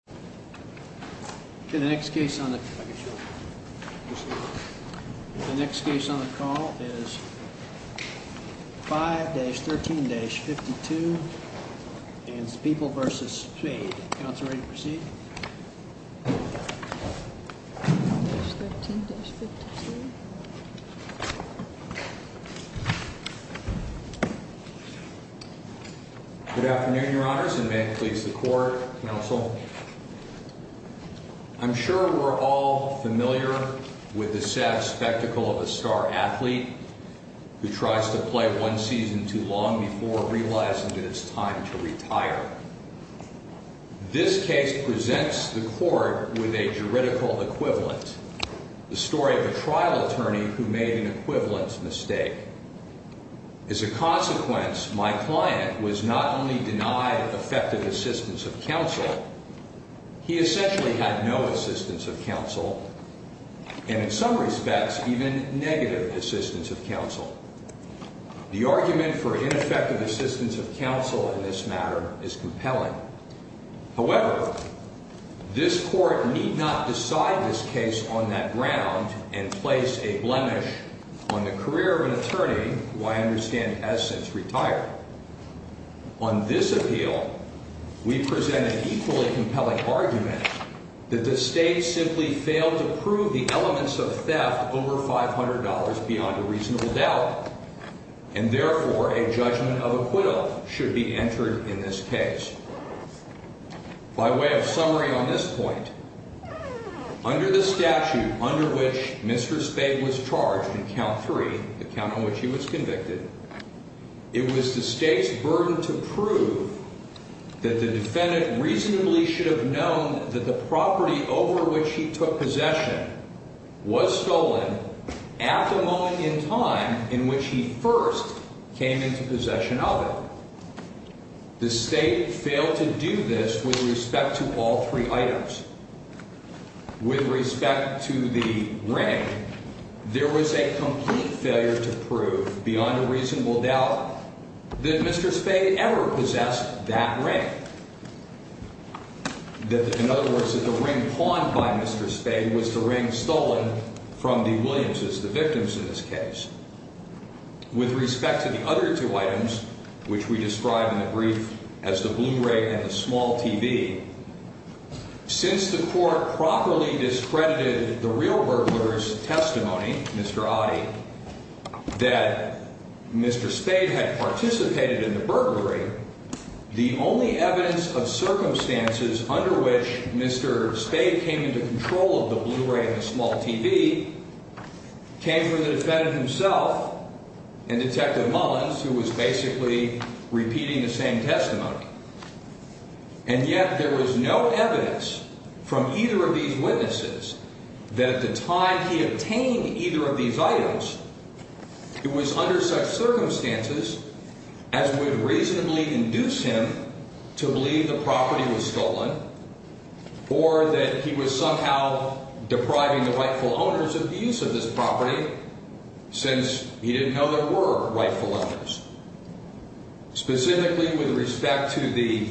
5-13-52 People v. Spade 5-13-52 This case presents the court with a juridical equivalent, the story of a trial attorney who made an equivalent mistake. As a consequence, my client was not only denied effective assistance of counsel, he essentially had no assistance of counsel, and in some respects even negative assistance of counsel. The argument for ineffective assistance of counsel in this matter is compelling. However, this court need not decide this case on that ground and place a blemish on the career of an attorney who I understand has since retired. On this appeal, we present an equally compelling argument that the state simply failed to prove the elements of theft over $500 beyond a reasonable doubt, and therefore a judgment of acquittal should be entered in this case. By way of summary on this point, under the statute under which Mr. Spade was charged in count three, the count on which he was convicted, it was the state's burden to prove that the defendant reasonably should have known that the property over which he took possession was stolen at the moment in time in which he first came into possession of it. The state failed to do this with respect to all three items. With respect to the ring, there was a complete failure to prove beyond a reasonable doubt that Mr. Spade ever possessed that ring. In other words, that the ring pawned by Mr. Spade was the ring stolen from the items, which we describe in the brief as the Blu-ray and the small TV. Since the court properly discredited the real burglar's testimony, Mr. Ottey, that Mr. Spade had participated in the burglary, the only evidence of circumstances under which Mr. Spade came into control of the Blu-ray and the small TV came from the defendant himself and Detective Mullins, who was basically repeating the same testimony. And yet there was no evidence from either of these witnesses that at the time he obtained either of these items, it was under such circumstances as would reasonably induce him to believe the property was stolen or that he was somehow depriving the rightful owners of the use of this property since he didn't know there were rightful owners. Specifically with respect to the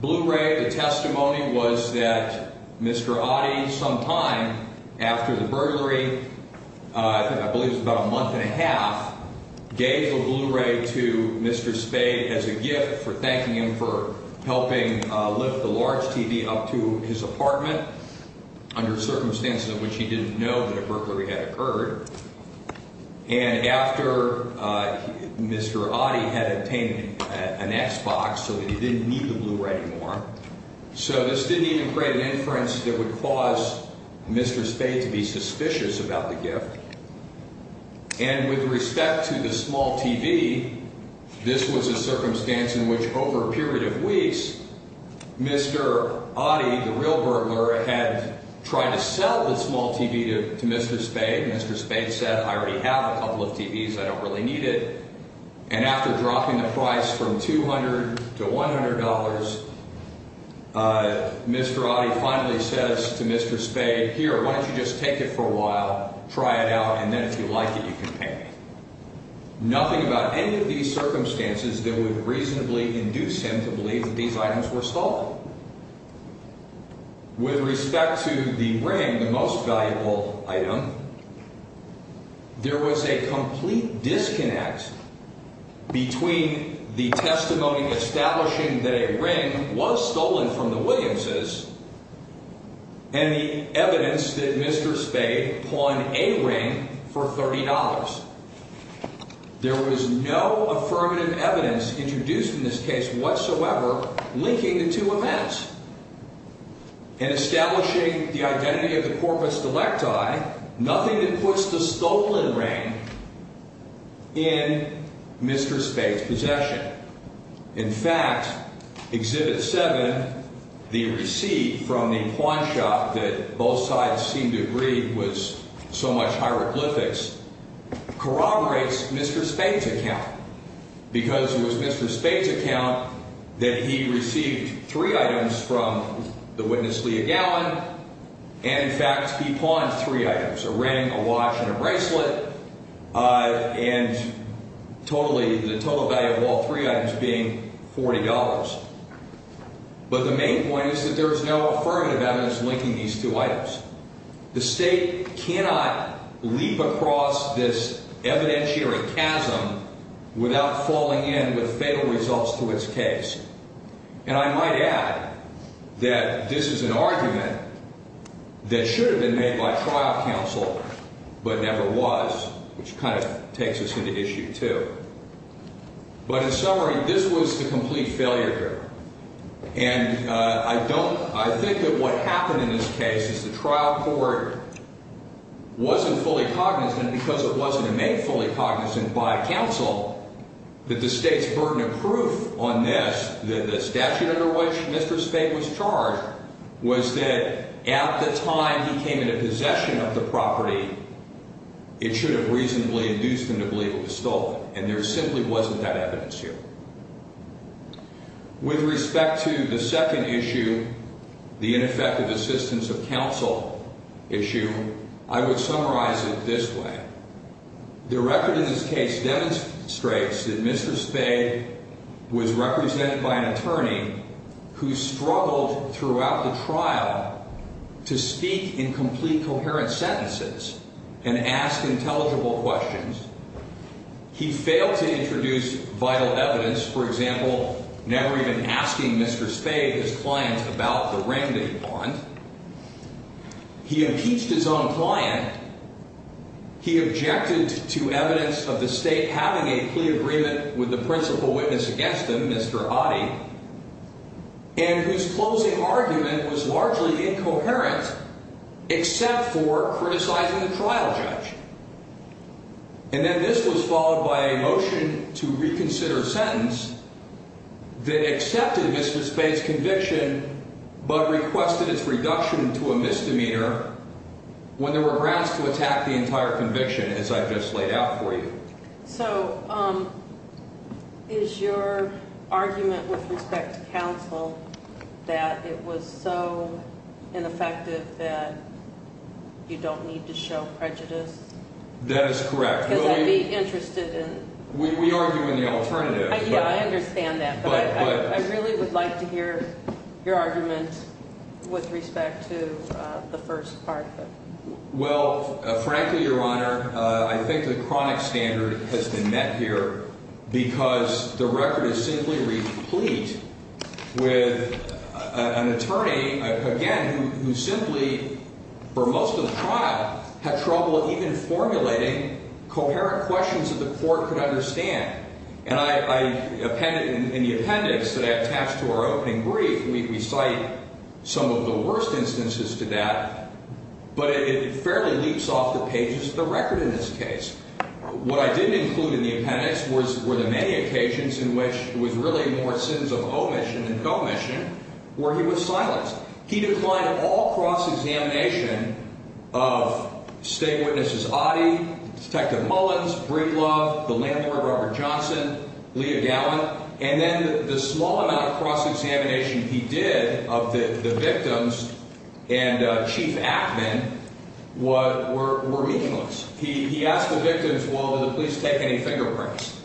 Blu-ray, the testimony was that Mr. Ottey sometime after the burglary, I believe it was about a month and a half, gave the Blu-ray to Mr. Spade as a gift for thanking him for helping lift the large TV up to his apartment under circumstances in which he didn't know that a burglary had occurred. And after Mr. Ottey had obtained an X-Box so that he didn't need the Blu-ray anymore, so this didn't even create an inference that would cause Mr. Spade to be suspicious about the gift. And with respect to the small TV, this was a circumstance in which over a period of weeks, Mr. Ottey, the real burglar, had tried to sell the small TV to Mr. Spade, Mr. Spade said, I already have a couple of TVs, I don't really need it. And after dropping the price from $200 to $100, Mr. Ottey finally says to Mr. Spade, here, why don't you just take it for a while, try it out, and then if you like it, you can pay me. Nothing about any of these circumstances that would reasonably induce him to believe that these items were So, with respect to the ring, the most valuable item, there was a complete disconnect between the testimony establishing that a ring was stolen from the Williams' and the evidence that Mr. Spade pawned a ring for $30. There was no affirmative evidence introduced in this case whatsoever linking the two events in establishing the identity of the corpus delecti, nothing that puts the stolen ring in Mr. Spade's possession. In fact, Exhibit 7, the receipt from the pawn shop that both sides seemed to agree was so much hieroglyphics, corroborates Mr. Spade's account, because it was Mr. Spade's account that he received three items from the witness, Leah Gallin, and in fact, he pawned three items, a ring, a watch, and a bracelet, and the total value of all three items being $40. But the main point is that there is no affirmative evidence linking these two items. The State cannot leap across this evidentiary chasm without falling in with fatal results to its case. And I might add that this is an argument that should have been made by trial counsel, but never was, which kind of takes us into issue two. But in summary, this was a complete and because it wasn't made fully cognizant by counsel that the State's burden of proof on this, that the statute under which Mr. Spade was charged, was that at the time he came into possession of the property, it should have reasonably induced him to believe it was stolen, and there simply wasn't that evidence here. With respect to the second issue, the record in this case demonstrates that Mr. Spade was represented by an attorney who struggled throughout the trial to speak in complete, coherent sentences and ask intelligible questions. He failed to introduce vital evidence, for example, never even asking Mr. Spade, his client, he objected to evidence of the State having a plea agreement with the principal witness against him, Mr. Ottey, and whose closing argument was largely incoherent except for criticizing the trial judge. And then this was followed by a motion to reconsider a sentence that accepted Mr. Spade's conviction, but requested its reduction to a misdemeanor when there were grounds to attack the entire conviction, as I've just laid out for you. So is your argument with respect to counsel that it was so ineffective that you don't need to show prejudice? That is correct. Because I'd be interested in... We argue in the alternative. Yeah, I understand that, but I really would like to hear your argument with respect to the first part. Well, frankly, Your Honor, I think the chronic standard has been met here because the record is simply replete with an attorney, again, who simply, for most of the trial, had trouble even formulating coherent questions that the court could understand. And I appended in the appendix that I attached to our opening brief, we cite some of the worst instances to that, but it fairly leaps off the pages of the record in this case. What I didn't include in the appendix were the many occasions in which it was really more sins of omission than commission, where he was silenced. He declined all cross-examination of state witnesses Ottey, Detective Mullins, Briglove, the landlord, Robert Johnson, Leah Gallant, and then the small amount of cross-examination he did of the victims and Chief Ackman were meaningless. He asked the victims, well, did the police take any fingerprints?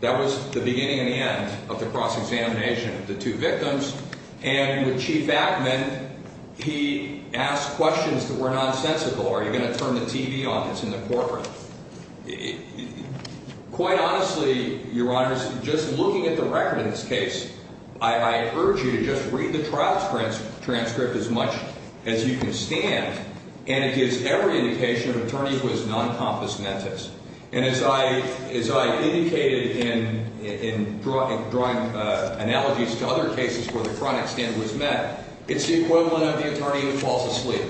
That was the beginning and the end of the cross-examination of the two victims. And with Chief Ackman, he asked questions that were nonsensical. Are you going to turn the TV on? It's in the courtroom. Quite honestly, Your Honor, just looking at the record in this case, I urge you to just read the trial transcript as much as you can stand, and it gives every indication of an attorney who is non-compensementist. And as I indicated in drawing analogies to other cases where the chronic standard was met, it's the equivalent of the attorney who falls asleep.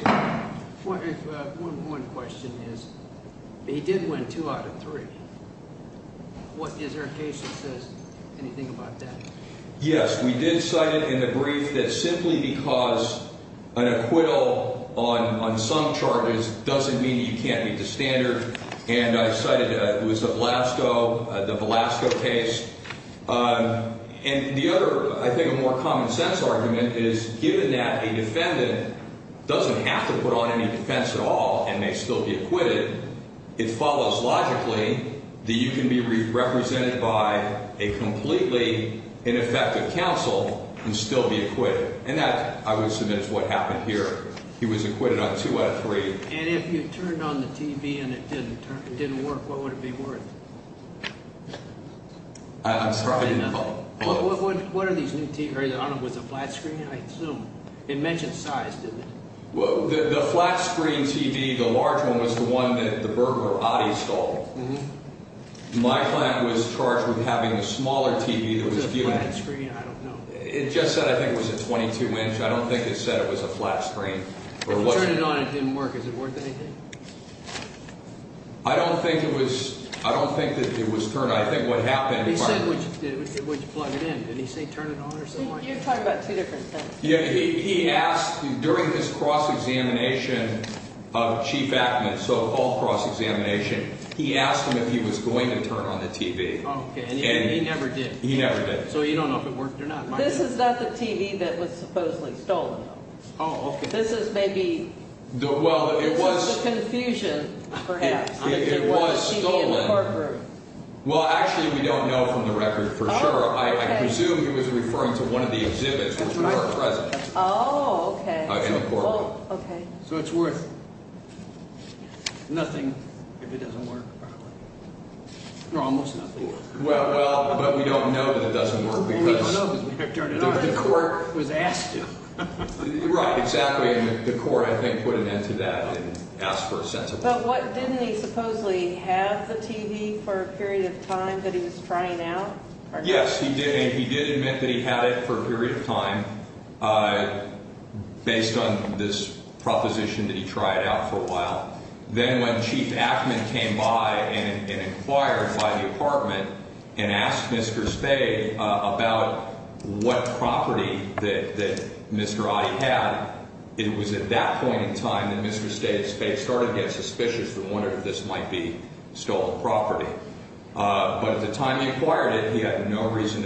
One more question is, he did win two out of three. Is there a case that says anything about that? Yes, we did cite it in the brief that simply because an acquittal on some charges doesn't mean you can't meet the standard. And I cited it was the Velasco case. And the other, I think, more common sense argument is given that a defendant doesn't have to put on any defense at all and may still be acquitted, it follows logically that you can be represented by a completely ineffective counsel and still be acquitted. And that, I would submit, is what happened here. He was acquitted on two out of three. And if you turned on the TV and it didn't work, what would it be worth? I'm sorry. What are these new TVs? I don't know, was it a flat screen? I assume. It mentioned size, didn't it? The flat screen TV, the large one, was the one that the burglar, Ottey, stole. My client was charged with having a smaller TV that was viewing... Was it a flat screen? I don't know. It just said, I think, it was a 22-inch. I don't think it said it was a flat screen. If you turned it on and it didn't work, is it worth anything? I don't think it was. I don't think that it was turned on. I think what happened... He said, would you plug it in? Did he say turn it on or something like that? You're talking about two different things. Yeah, he asked, during his cross-examination of Chief Ackman, so all cross-examination, he asked him if he was going to turn on the TV. Okay, and he never did. He never did. So you don't know if it worked or not. This is not the TV that was supposedly stolen, though. Oh, okay. This is maybe... Well, it was... It was stolen. In the courtroom. Well, actually, we don't know from the record for sure. I presume he was referring to one of the exhibits, which were present. Oh, okay. In the courtroom. Okay. So it's worth nothing if it doesn't work properly. Or almost nothing. Well, but we don't know that it doesn't work because... We don't know because we have turned it on. The court... Was asked to. Right, exactly, and the court, I think, put an end to that and asked for a sense of... But didn't he supposedly have the TV for a period of time that he was trying out? Yes, he did, and he did admit that he had it for a period of time based on this proposition that he tried out for a while. Then when Chief Ackman came by and inquired by the apartment and asked Mr. Spade about what property that Mr. Otti had, it was at that point in time that Mr. Spade started to get suspicious and wondered if this might be stolen property. But at the time he acquired it, he had no reason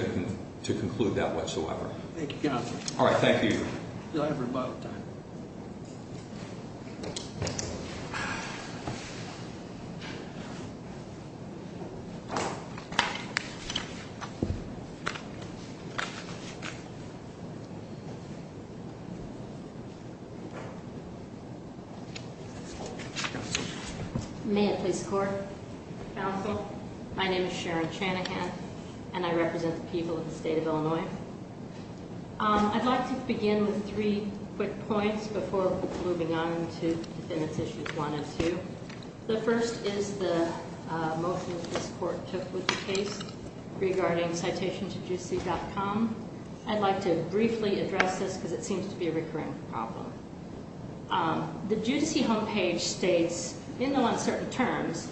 to conclude that whatsoever. Thank you, counsel. All right, thank you. You'll have your final time. May I please score? Counsel, my name is Sharon Chanahan, and I represent the people of the state of Illinois. I'd like to begin with three quick points before moving on to defendants issues one and two. The first is the motion this court took with the case regarding citation to judice.com. I'd like to briefly address this because it seems to be a recurring problem. The judice homepage states in the uncertain terms,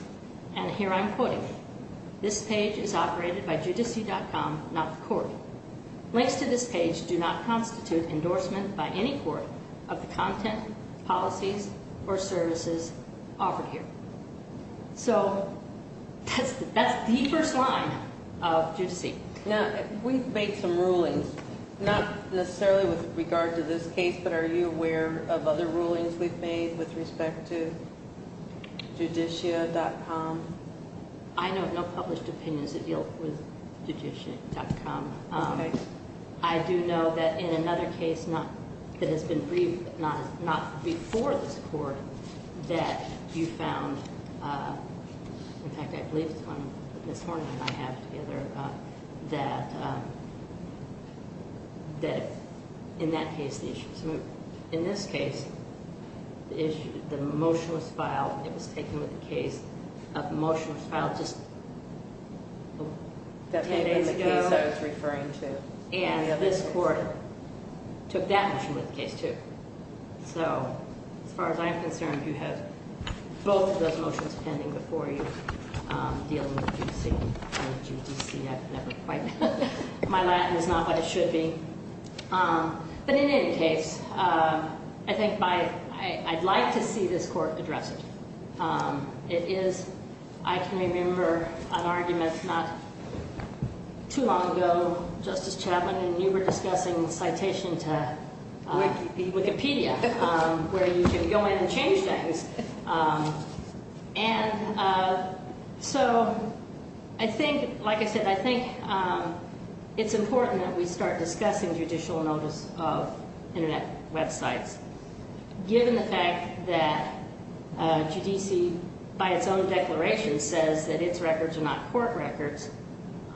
and here I'm quoting, this page is operated by judice.com, not the court. Links to this page do not constitute endorsement by any court of the content, policies, or services offered here. So that's the first line of judice. Now, we've made some rulings, not necessarily with regard to this case, but are you aware of other rulings we've made with respect to judicia.com? I have no published opinions that deal with judicia.com. I do know that in another case that has been briefed, not before this court, that you found, in fact, I believe it's one that Ms. Horn and I have together, that in that case, in this case, the motion was filed. It was taken with the case, the motion was filed just 10 days ago, and this court took that motion with the case, too. So, as far as I'm concerned, you have both of those motions pending before you dealing with judice.com. I've never quite, my Latin is not what it should be. But in any case, I think I'd like to see this court address it. It is, I can remember an argument not too long ago, Justice Chapman, and you were discussing citation to Wikipedia, where you can go in and change things. And so, I think, like I said, I think it's important that we start discussing judicial notice of internet websites. Given the fact that GDC, by its own declaration, says that its records are not court records,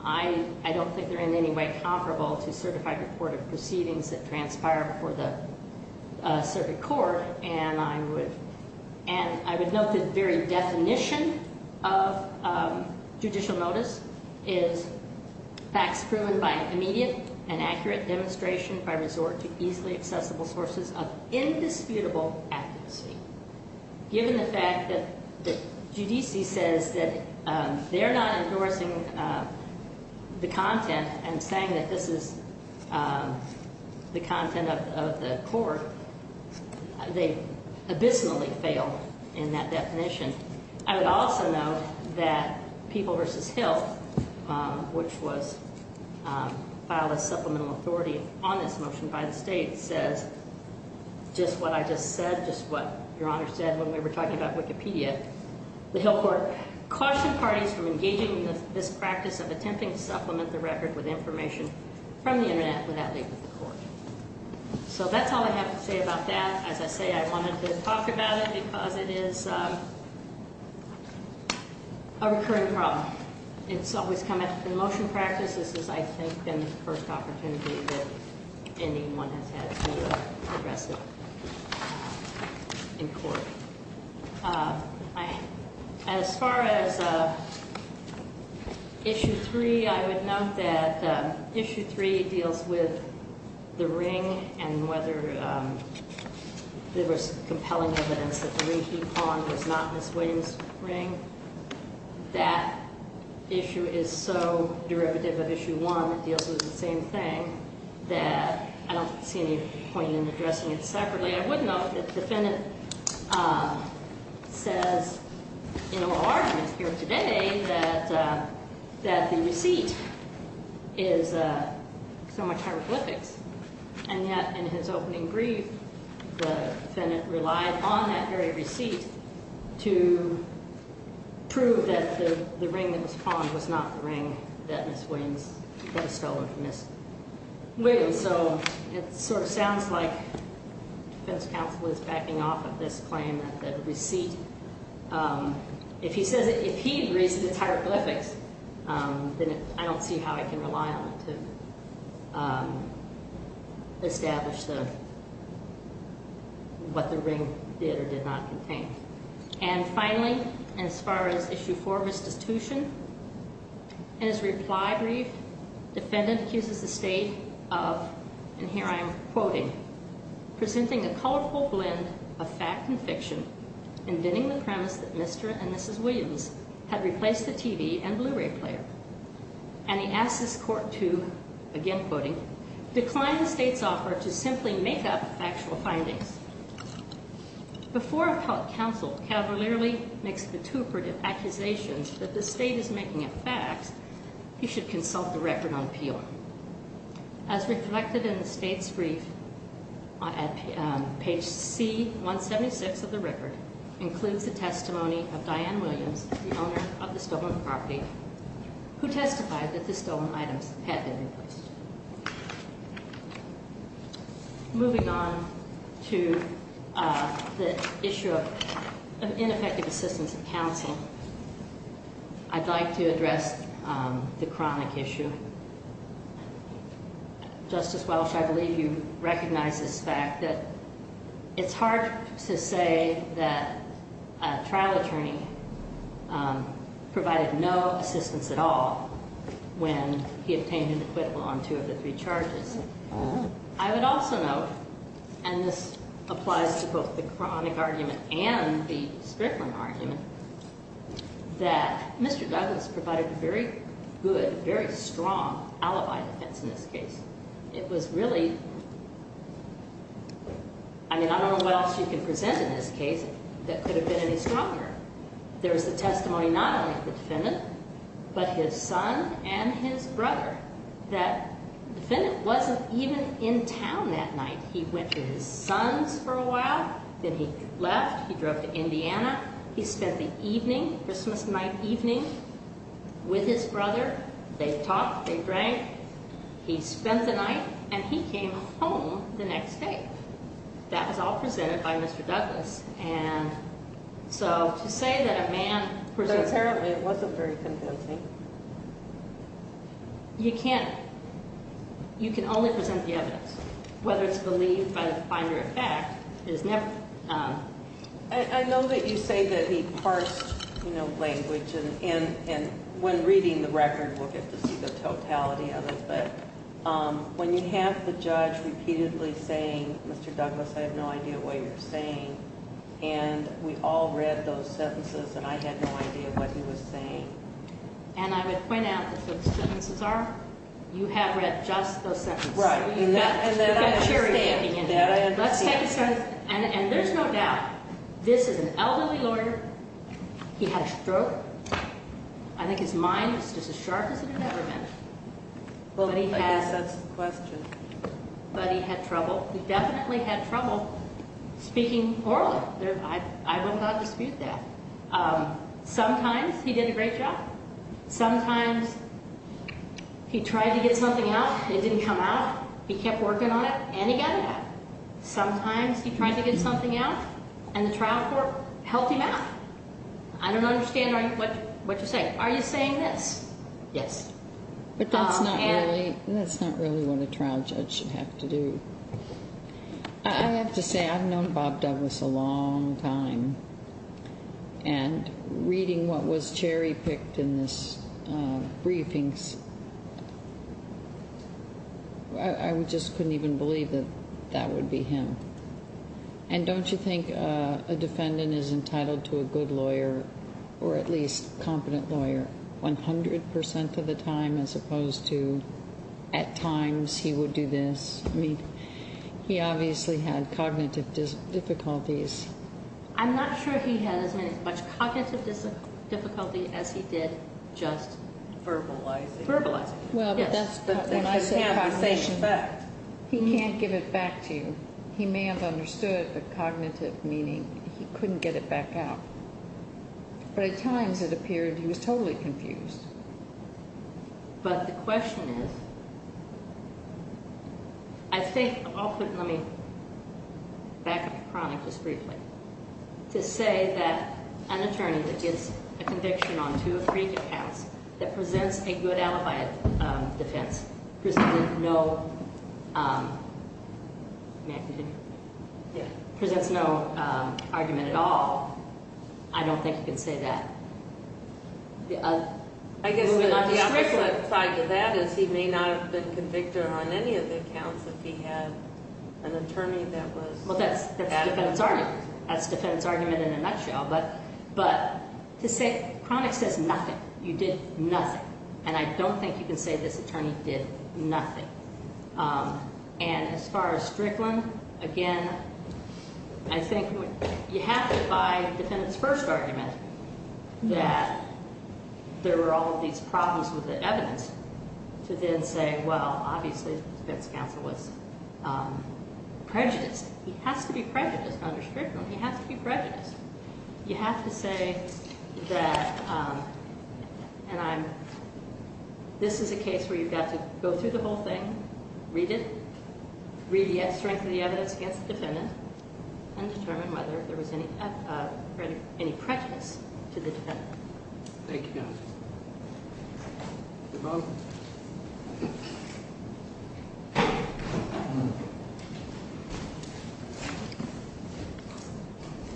I don't think they're in any way comparable to certified report of proceedings that transpire before the circuit court. And I would note the very definition of judicial notice is facts proven by immediate and accurate demonstration by resort to easily accessible sources of indisputable advocacy. Given the fact that GDC says that they're not endorsing the content and saying that this is the content of the court, they abysmally fail in that definition. I would also note that People v. Hill, which was filed as supplemental authority on this motion by the state, says, just what I just said, just what Your Honor said when we were talking about Wikipedia, the Hill court cautioned parties from engaging in this practice of from the internet without leaving the court. So that's all I have to say about that. As I say, I wanted to talk about it because it is a recurring problem. It's always come up in motion practice. This is, I think, the first opportunity that anyone has had to address it in court. As far as issue three, I would note that issue three deals with the ring and whether there was compelling evidence that the ring he pawned was not Ms. Williams' ring. That issue is so derivative of issue one. It deals with the same thing that I don't see any point in addressing it separately. I would note that the defendant says in a little argument here today that the receipt is so much hieroglyphics. And yet, in his opening brief, the defendant relied on that very receipt to prove that the ring that was pawned was not the ring that Ms. Williams had stolen from Ms. Williams. So it sort of sounds like defense counsel is backing off of this claim that the receipt, if he says, if he agrees that it's hieroglyphics, then I don't see how I can rely on it to establish what the ring did or did not contain. And finally, as far as issue four, restitution, in his reply brief, defendant accuses the state of, and here I'm quoting, presenting a colorful blend of fact and fiction, inventing the premise that Mr. and Mrs. Williams had replaced the TV and Blu-ray player. And he asks this court to, again quoting, decline the state's offer to simply make up factual findings. Before a counsel cavalierly makes vituperative accusations that the state is making up facts, he should consult the record on appeal. As reflected in the state's brief, page C-176 of the record includes the testimony of Diane Williams, the owner of the stolen property, who testified that the stolen items had been replaced. Moving on to the issue of ineffective assistance of counsel, I'd like to address the chronic issue. Justice Welch, I believe you recognize this fact that it's hard to say that a trial attorney provided no assistance at all when he obtained an acquittal on two of the three charges. I would also note, and this applies to both the chronic argument and the Strickland argument, that Mr. Douglas provided very good, very strong alibi defense in this case. It was really, I mean, I don't know what else you can present in this case that could have been any stronger. There's the testimony not only of the defendant, but his son and his brother, that the defendant wasn't even in town that night. He went to his son's for a while. Then he left. He drove to Indiana. He spent the evening, Christmas night evening, with his brother. They talked. They drank. He spent the night. And he came home the next day. That was all presented by Mr. Douglas. And so to say that a man presented- But apparently it wasn't very convincing. You can't. You can only present the evidence. Whether it's believed by the finder of fact is never- I know that you say that he parsed language, and when reading the record, we'll get to see the totality of it. But when you have the judge repeatedly saying, Mr. Douglas, I have no idea what you're saying, and we all read those sentences, and I had no idea what he was saying. And I would point out that what the sentences are, you have read just those sentences. Right. And there's no doubt, this is an elderly lawyer. He had a stroke. I think his mind was just as sharp as it had ever been. But he had- I guess that's the question. But he had trouble. He definitely had trouble speaking orally. I would not dispute that. Sometimes he did a great job. Sometimes he tried to get something out. It didn't come out. He kept working on it, and he got it out. Sometimes he tried to get something out, and the trial court helped him out. I don't understand what you're saying. Are you saying this? Yes. But that's not really what a trial judge should have to do. I have to say, I've known Bob Douglas a long time. And reading what was cherry-picked in these briefings, I just couldn't even believe that that would be him. And don't you think a defendant is entitled to a good lawyer, or at least competent lawyer, 100% of the time, as opposed to, at times, he would do this? He obviously had cognitive difficulties. I'm not sure he had as much cognitive difficulty as he did just verbalizing. Verbalizing. Well, but that's when I say cognition. He can't give it back to you. He may have understood the cognitive meaning. He couldn't get it back out. But at times, it appeared he was totally confused. But the question is, I think, I'll put, let me back up the chronic just briefly, to say that an attorney that gets a conviction on two or three accounts that presents a good alibi defense, presents no argument at all, I don't think you can say that. I guess the opposite side to that is he may not have been convicted on any of the accounts if he had an attorney that was- Well, that's the defendant's argument. That's the defendant's argument in a nutshell. But to say chronic says nothing. You did nothing. And I don't think you can say this attorney did nothing. And as far as Strickland, again, I think you have to buy the defendant's first argument that there were all of these problems with the evidence to then say, well, obviously defense counsel was prejudiced. He has to be prejudiced under Strickland. He has to be prejudiced. You have to say that, and I'm, this is a case where you've got to go through the whole thing, read it, read the strength of the evidence against the defendant, and determine whether there was any prejudice to the defendant. Thank you. Thank you.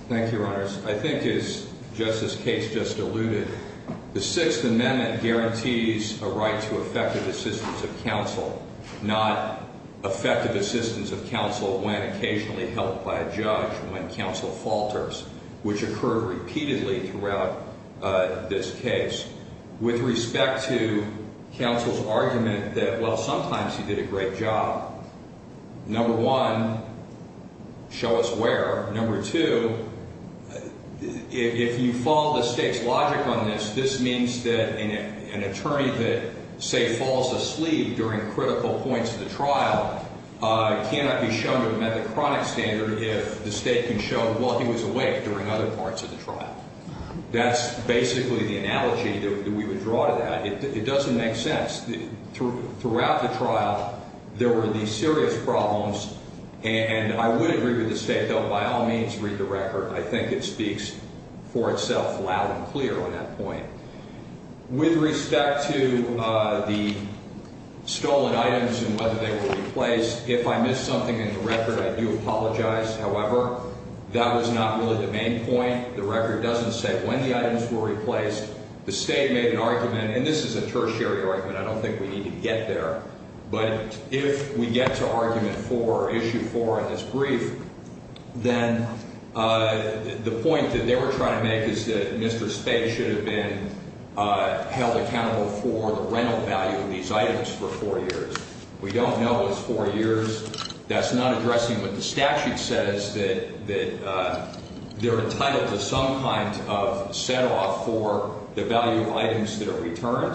Thank you, Your Honors. I think as Justice Cates just alluded, the Sixth Amendment guarantees a right to effective assistance of counsel, not effective assistance of counsel when occasionally helped by a judge, when counsel falters, which occurred repeatedly throughout this case. With respect to counsel's argument that, well, sometimes he did a great job. Number one, show us where. Number two, if you follow the state's logic on this, this means that an attorney that, say, falls asleep during critical points of the trial cannot be shown to have met the chronic standard if the state can show, well, he was awake during other parts of the trial. That's basically the analogy that we would draw to that. It doesn't make sense. Throughout the trial, there were these serious problems, and I would agree with the state, though, by all means, read the record. I think it speaks for itself loud and clear on that point. With respect to the stolen items and whether they were replaced, if I missed something in the record, I do apologize. However, that was not really the main point. The record doesn't say when the items were replaced. The state made an argument, and this is a tertiary argument. I don't think we need to get there. But if we get to argument four, issue four in this brief, then the point that they were trying to make is that Mr. State should have been held accountable for the rental value of these items for four years. We don't know it's four years. That's not addressing what the statute says, that they're entitled to some kind of set-off for the value of items that are returned,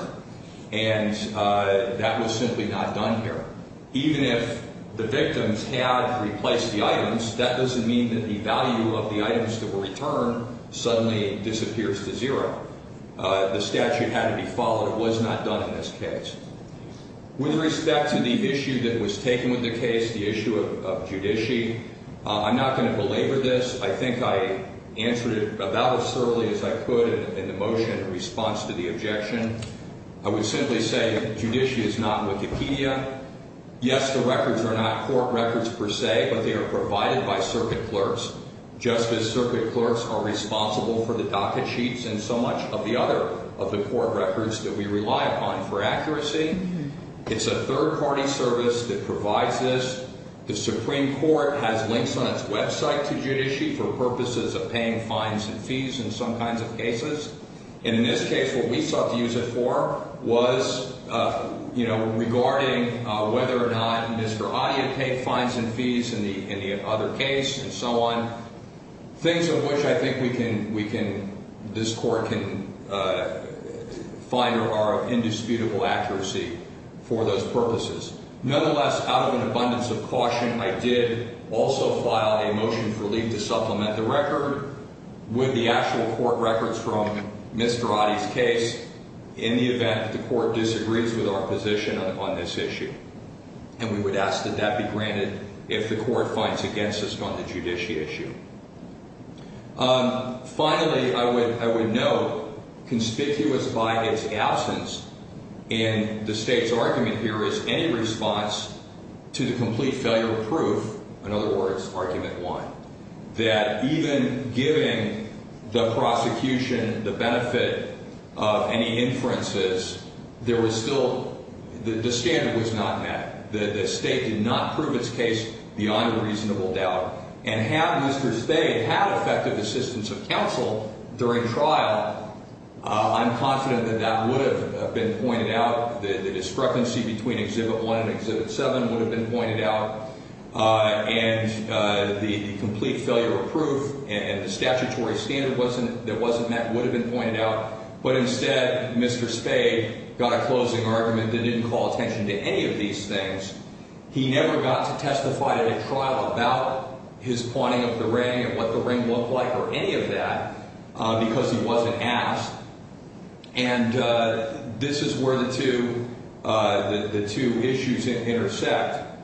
and that was simply not done here. Even if the victims had replaced the items, that doesn't mean that the value of the items that were returned suddenly disappears to zero. The statute had to be followed. It was not done in this case. With respect to the issue that was taken with the case, the issue of judici, I'm not going to belabor this. I think I answered it about as thoroughly as I could in the motion in response to the objection. I would simply say judici is not Wikipedia. Yes, the records are not court records per se, but they are provided by circuit clerks, just as circuit clerks are responsible for the docket sheets and so much of the other of the court records that we rely upon for accuracy. It's a third-party service that provides this. The Supreme Court has links on its website to judici for purposes of paying fines and fees in some kinds of cases, and in this case, what we sought to use it for was regarding whether or not Mr. Adia paid fines and fees in the other case and so on, things of which I think this court can find are of indisputable accuracy for those purposes. Nonetheless, out of an abundance of caution, I did also file a motion for relief to supplement the record with the actual court records from Mr. Adia's case in the event that the court disagrees with our position on this issue, and we would ask that that be granted if the court finds against us on the judici issue. Finally, I would note, conspicuous by its absence in the State's argument here, is any response to the complete failure of proof, in other words, argument one, that even giving the prosecution the benefit of any inferences, there was still... The standard was not met. The State did not prove its case beyond a reasonable doubt, and have Mr. State have had effective assistance of counsel during trial, I'm confident that that would have been pointed out. The discrepancy between Exhibit 1 and Exhibit 7 would have been pointed out, and the complete failure of proof and the statutory standard that wasn't met would have been pointed out, but instead, Mr. Spade got a closing argument that didn't call attention to any of these things. He never got to testify at a trial about his pointing of the ring and what the ring looked like or any of that because he wasn't asked, and this is where the two issues intersect,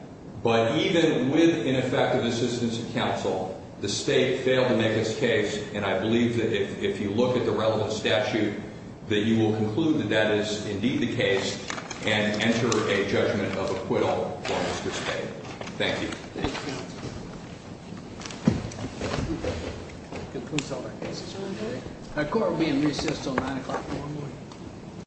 but even with ineffective assistance of counsel, the State failed to make its case, and I believe that if you look at the relevant statute, that you will conclude that that is indeed the case and enter a judgment of acquittal for Mr. Spade. Thank you.